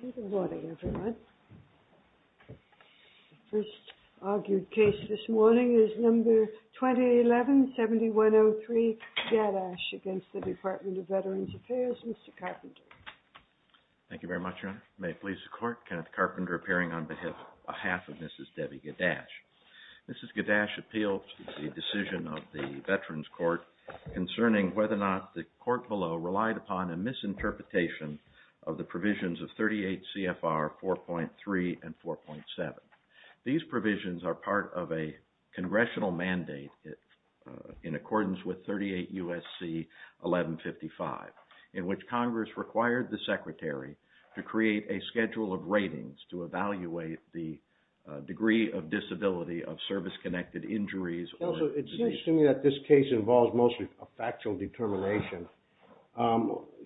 Good morning, everyone. The first argued case this morning is No. 2011-7103, GADASH, against the Department of Veterans Affairs. Mr. Carpenter. Thank you very much, Your Honor. May it please the Court, Kenneth Carpenter appearing on behalf of Mrs. Debbie GADASH. Mrs. GADASH appealed to the decision of the Veterans Court concerning whether or not the Court below relied upon a misinterpretation of the provisions of 38 CFR 4.3 and 4.7. These provisions are part of a congressional mandate in accordance with 38 U.S.C. 1155, in which Congress required the Secretary to create a schedule of ratings to evaluate the degree of disability of service-connected injuries. Counsel, it seems to me that this case involves mostly a factual determination.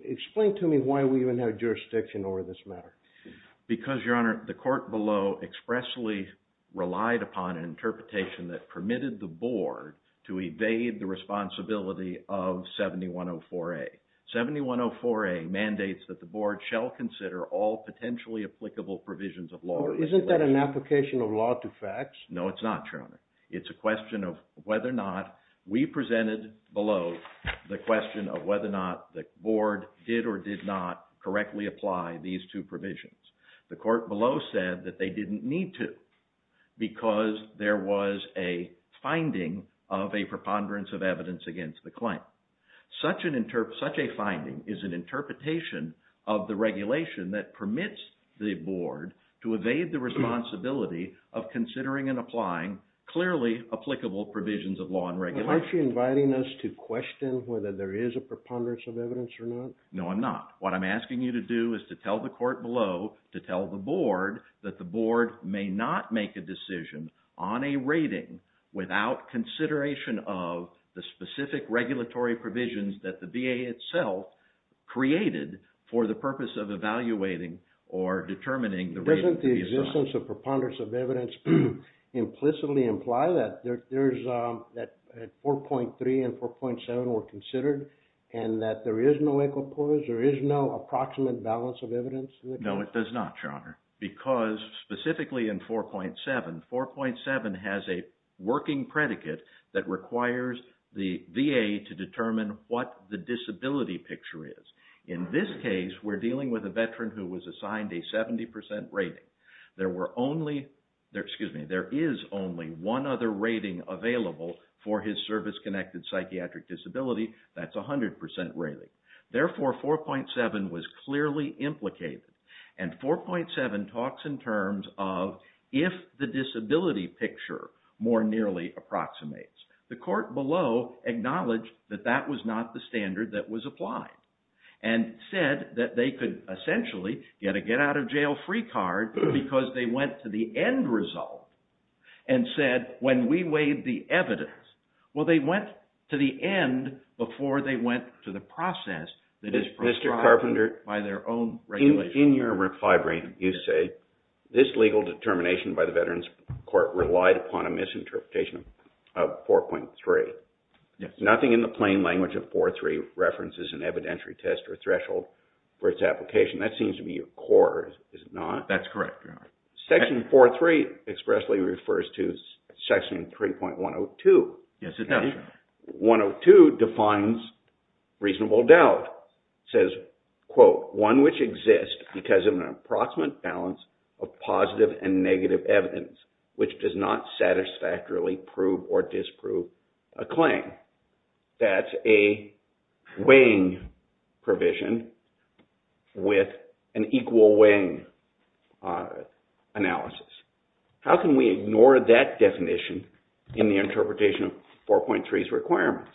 Explain to me why we even have jurisdiction over this matter. Because, Your Honor, the Court below expressly relied upon an interpretation that permitted the Board to evade the responsibility of 7104A. 7104A mandates that the Board shall consider all potentially applicable provisions of law. No, it's not, Your Honor. It's a question of whether or not we presented below the question of whether or not the Board did or did not correctly apply these two provisions. The Court below said that they didn't need to because there was a finding of a preponderance of evidence against the claim. Such a finding is an interpretation of the regulation that permits the Board to evade the responsibility of considering and applying clearly applicable provisions of law and regulation. Aren't you inviting us to question whether there is a preponderance of evidence or not? No, I'm not. What I'm asking you to do is to tell the Court below, to tell the Board, that the Board may not make a decision on a rating without consideration of the specific regulatory provisions that the VA itself created for the purpose of evaluating or determining the rating for the attorney. Does the absence of preponderance of evidence implicitly imply that 4.3 and 4.7 were considered and that there is no equal cause? There is no approximate balance of evidence? No, it does not, Your Honor, because specifically in 4.7, 4.7 has a working predicate that requires the VA to determine what the disability picture is. In this case, we're dealing with a veteran who was assigned a 70% rating. There is only one other rating available for his service-connected psychiatric disability. That's a 100% rating. Therefore, 4.7 was clearly implicated. And 4.7 talks in terms of if the disability picture more nearly approximates. The Court below acknowledged that that was not the standard that was applied and said that they could essentially get a get-out-of-jail-free card because they went to the end result and said, when we weighed the evidence, well, they went to the end before they went to the process that is prescribed by their own regulation. In your reply, you say, this legal determination by the Veterans Court relied upon a misinterpretation of 4.3. Nothing in the plain language of 4.3 references an evidentiary test or threshold for its application. That seems to be your core, is it not? That's correct, Your Honor. Section 4.3 expressly refers to Section 3.102. Yes, it does, Your Honor. How can we ignore that definition in the interpretation of 4.3's requirements?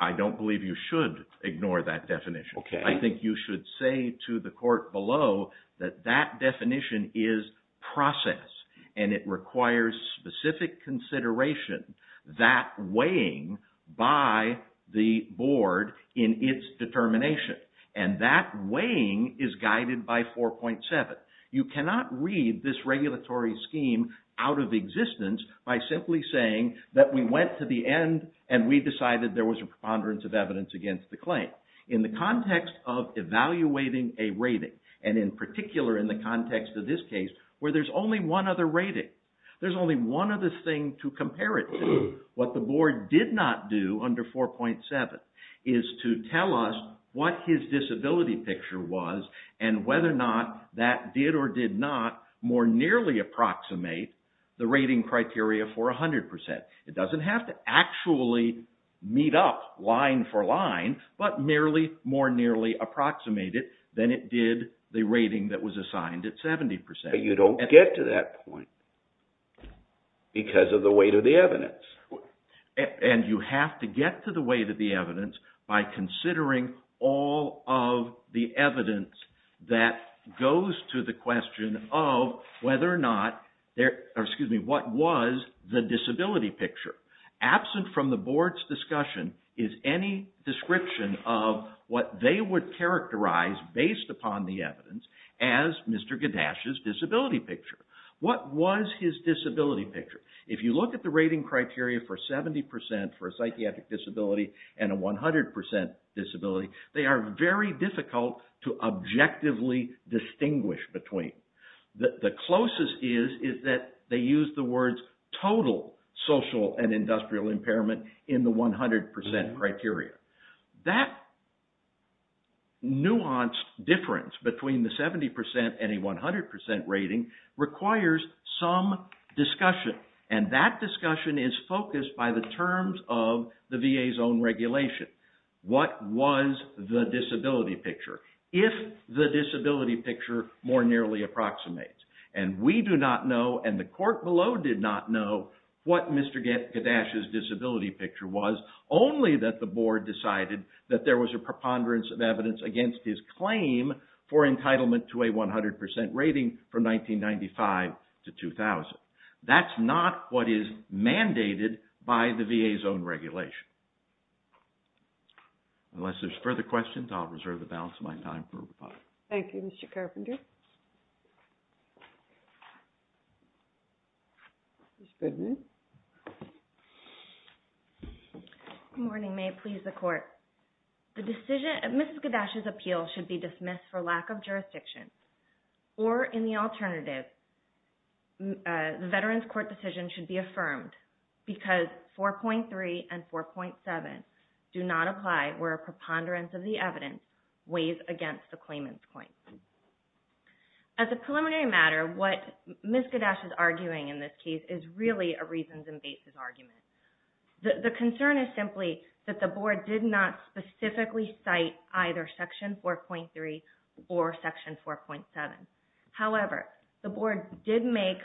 I don't believe you should ignore that definition. Okay. I think you should say to the Court below that that definition is process, and it requires specific consideration, that weighing by the Board in its determination. And that weighing is guided by 4.7. You cannot read this regulatory scheme out of existence by simply saying that we went to the end and we decided there was a preponderance of evidence against the claim. In the context of evaluating a rating, and in particular in the context of this case where there's only one other rating, there's only one other thing to compare it to. What the Board did not do under 4.7 is to tell us what his disability picture was and whether or not that did or did not more nearly approximate the rating criteria for 100%. It doesn't have to actually meet up line for line, but merely more nearly approximate it than it did the rating that was assigned at 70%. You don't get to that point because of the weight of the evidence. And you have to get to the weight of the evidence by considering all of the evidence that goes to the question of whether or not, or excuse me, what was the disability picture. Absent from the Board's discussion is any description of what they would characterize based upon the evidence as Mr. Gaddash's disability picture. What was his disability picture? If you look at the rating criteria for 70% for a psychiatric disability and a 100% disability, they are very difficult to objectively distinguish between. The closest is that they use the words total social and industrial impairment in the 100% criteria. That nuanced difference between the 70% and a 100% rating requires some discussion. And that discussion is focused by the terms of the VA's own regulation. What was the disability picture? If the disability picture more nearly approximates, and we do not know and the court below did not know what Mr. Gaddash's disability picture was, only that the Board decided that there was a preponderance of evidence against his claim for entitlement to a 100% rating from 1995 to 2000. That's not what is mandated by the VA's own regulation. Unless there's further questions, I'll reserve the balance of my time for rebuttal. Thank you, Mr. Carpenter. Good morning. May it please the court. Mrs. Gaddash's appeal should be dismissed for lack of jurisdiction or in the alternative, the Veterans Court decision should be affirmed because 4.3 and 4.7 do not apply where a preponderance of the evidence weighs against the claimant's claim. As a preliminary matter, what Ms. Gaddash is arguing in this case is really a reasons and basis argument. The concern is simply that the Board did not specifically cite either Section 4.3 or Section 4.7. However, the Board did make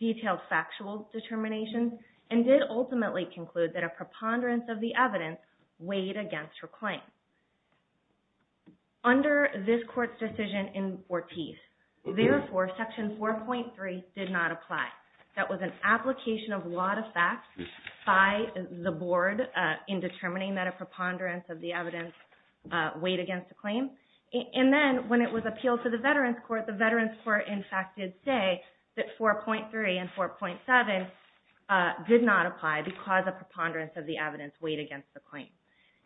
detailed factual determinations and did ultimately conclude that a preponderance of the evidence weighed against her claim. Under this court's decision in Ortiz, therefore, Section 4.3 did not apply. That was an application of law to facts by the Board in determining that a preponderance of the evidence weighed against the claim. And then when it was appealed to the Veterans Court, the Veterans Court, in fact, did say that 4.3 and 4.7 did not apply because a preponderance of the evidence weighed against the claim.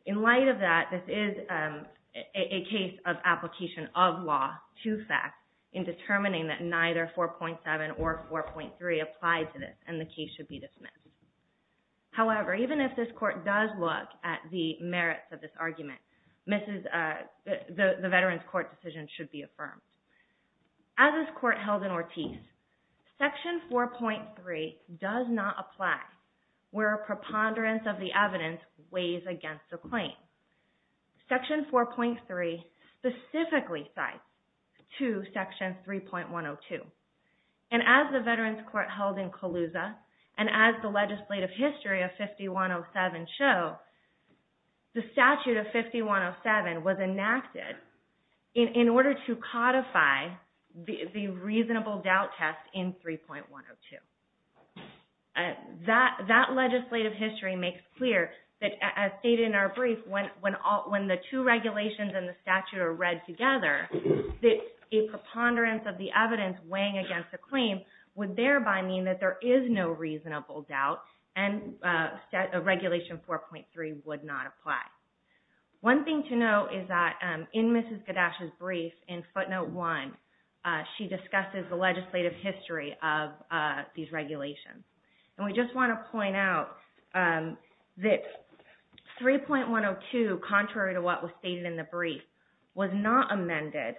In light of that, this is a case of application of law to facts in determining that neither 4.7 or 4.3 applied to this and the case should be dismissed. However, even if this court does look at the merits of this argument, the Veterans Court decision should be affirmed. As this court held in Ortiz, Section 4.3 does not apply where a preponderance of the evidence weighs against the claim. Section 4.3 specifically cites to Section 3.102. And as the Veterans Court held in Colusa and as the legislative history of 5107 show, the statute of 5107 was enacted in order to codify the reasonable doubt test in 3.102. That legislative history makes clear that as stated in our brief, when the two regulations and the statute are read together, a preponderance of the evidence weighing against the claim would thereby mean that there is no reasonable doubt and Regulation 4.3 would not apply. One thing to note is that in Mrs. Gaddash's brief in footnote 1, she discusses the legislative history of these regulations. And we just want to point out that 3.102, contrary to what was stated in the brief, was not amended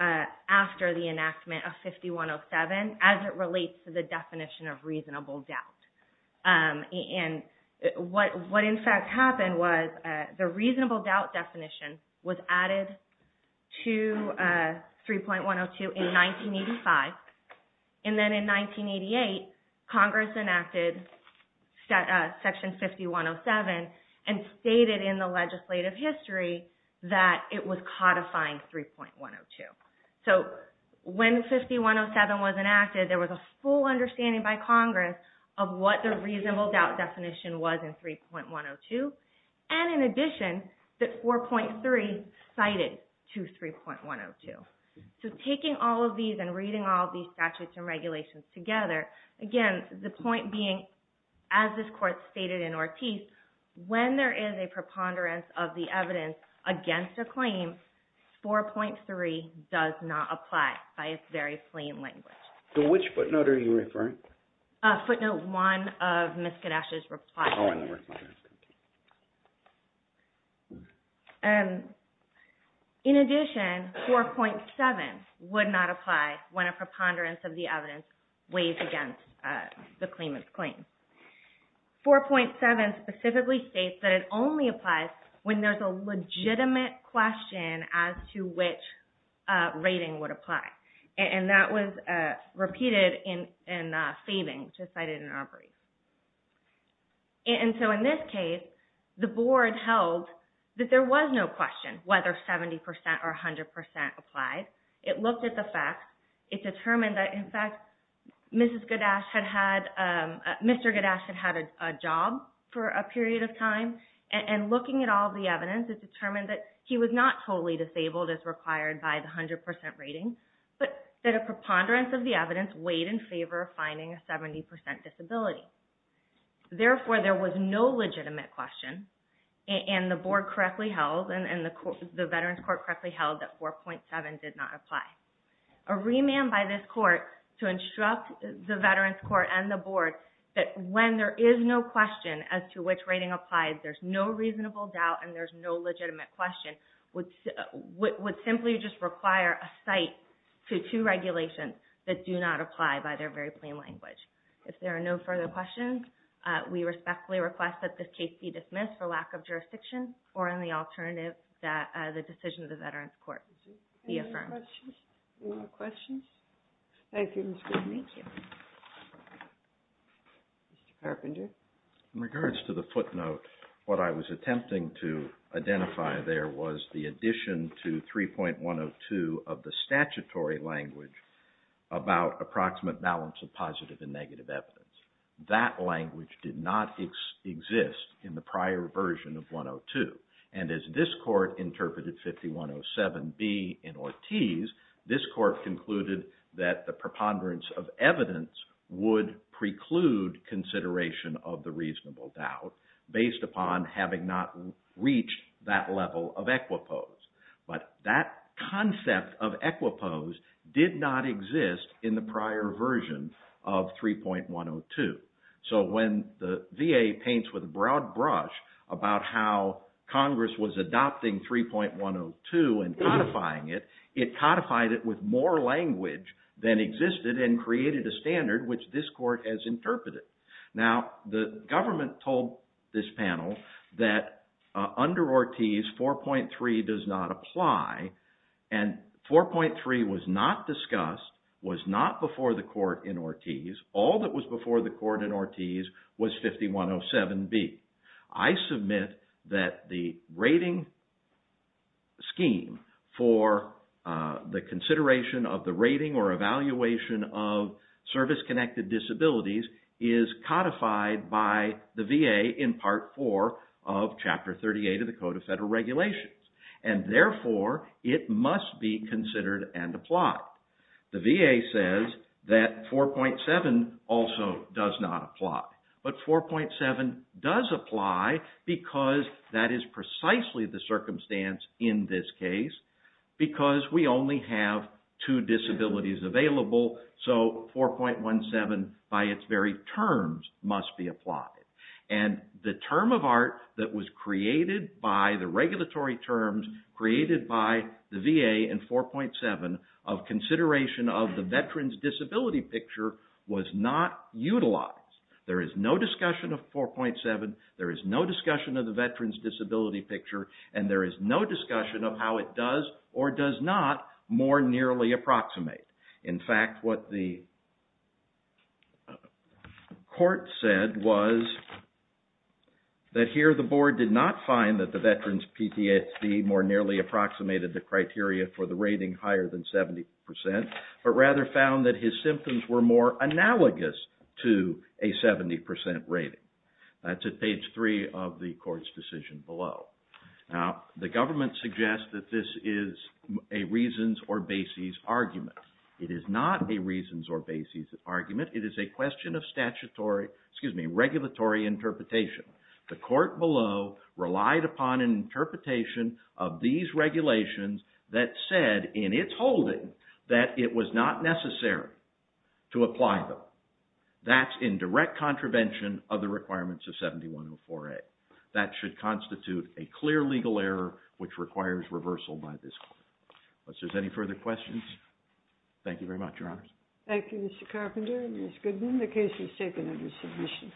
after the enactment of 5107 as it relates to the definition of reasonable doubt. And what in fact happened was the reasonable doubt definition was added to 3.102 in 1985. And then in 1988, Congress enacted Section 5107 and stated in the legislative history that it was codifying 3.102. So when 5107 was enacted, there was a full understanding by Congress of what the reasonable doubt definition was in 3.102. And in addition, that 4.3 cited to 3.102. So taking all of these and reading all of these statutes and regulations together, again, the point being, as this Court stated in Ortiz, when there is a preponderance of the evidence against a claim, 4.3 does not apply by its very plain language. So which footnote are you referring to? Footnote 1 of Mrs. Gaddash's reply. In addition, 4.7 would not apply when a preponderance of the evidence weighs against the claimant's claim. 4.7 specifically states that it only applies when there's a legitimate question as to which rating would apply. And that was repeated in Faving, which was cited in Arbery. And so in this case, the Board held that there was no question whether 70% or 100% applied. It looked at the facts. It determined that, in fact, Mr. Gaddash had had a job for a period of time. And looking at all of the evidence, it determined that he was not totally disabled as required by the 100% rating, but that a preponderance of the evidence weighed in favor of finding a 70% disability. Therefore, there was no legitimate question, and the Board correctly held and the Veterans Court correctly held that 4.7 did not apply. A remand by this Court to instruct the Veterans Court and the Board that when there is no question as to which rating applies, there's no reasonable doubt and there's no legitimate question, would simply just require a cite to two regulations that do not apply by their very plain language. If there are no further questions, we respectfully request that this case be dismissed for lack of jurisdiction or in the alternative that the decision of the Veterans Court be affirmed. Any more questions? Thank you, Ms. Goodman. Thank you. Mr. Carpenter? In regards to the footnote, what I was attempting to identify there was the addition to 3.102 of the statutory language about approximate balance of positive and negative evidence. That language did not exist in the prior version of 102. And as this Court interpreted 5107B in Ortiz, this Court concluded that the preponderance of evidence would preclude consideration of the reasonable doubt based upon having not reached that level of equipose. But that concept of equipose did not exist in the prior version of 3.102. So when the VA paints with a broad brush about how Congress was adopting 3.102 and codifying it, it codified it with more language than existed and created a standard which this Court has interpreted. Now, the government told this panel that under Ortiz, 4.3 does not apply. And 4.3 was not discussed, was not before the Court in Ortiz. All that was before the Court in Ortiz was 5107B. I submit that the rating scheme for the consideration of the rating or evaluation of service-connected disabilities is codified by the VA in Part 4 of Chapter 38 of the Code of Federal Regulations. And therefore, it must be considered and applied. The VA says that 4.7 also does not apply. But 4.7 does apply because that is precisely the circumstance in this case, because we only have two disabilities available. So 4.17 by its very terms must be applied. And the term of art that was created by the regulatory terms created by the VA in 4.7 of consideration of the veteran's disability picture was not utilized. There is no discussion of 4.7, there is no discussion of the veteran's disability picture, and there is no discussion of how it does or does not more nearly approximate. In fact, what the Court said was that here the Board did not find that the veteran's PTSD more nearly approximated the criteria for the rating higher than 70%, but rather found that his symptoms were more analogous to a 70% rating. That's at page 3 of the Court's decision below. Now, the government suggests that this is a reasons or bases argument. It is not a reasons or bases argument. It is a question of regulatory interpretation. The Court below relied upon an interpretation of these regulations that said in its holding that it was not necessary to apply them. That's in direct contravention of the requirements of 7104A. That should constitute a clear legal error which requires reversal by this Court. Unless there's any further questions, thank you very much, Your Honors. Thank you, Mr. Carpenter and Ms. Goodman. The case is taken under submission.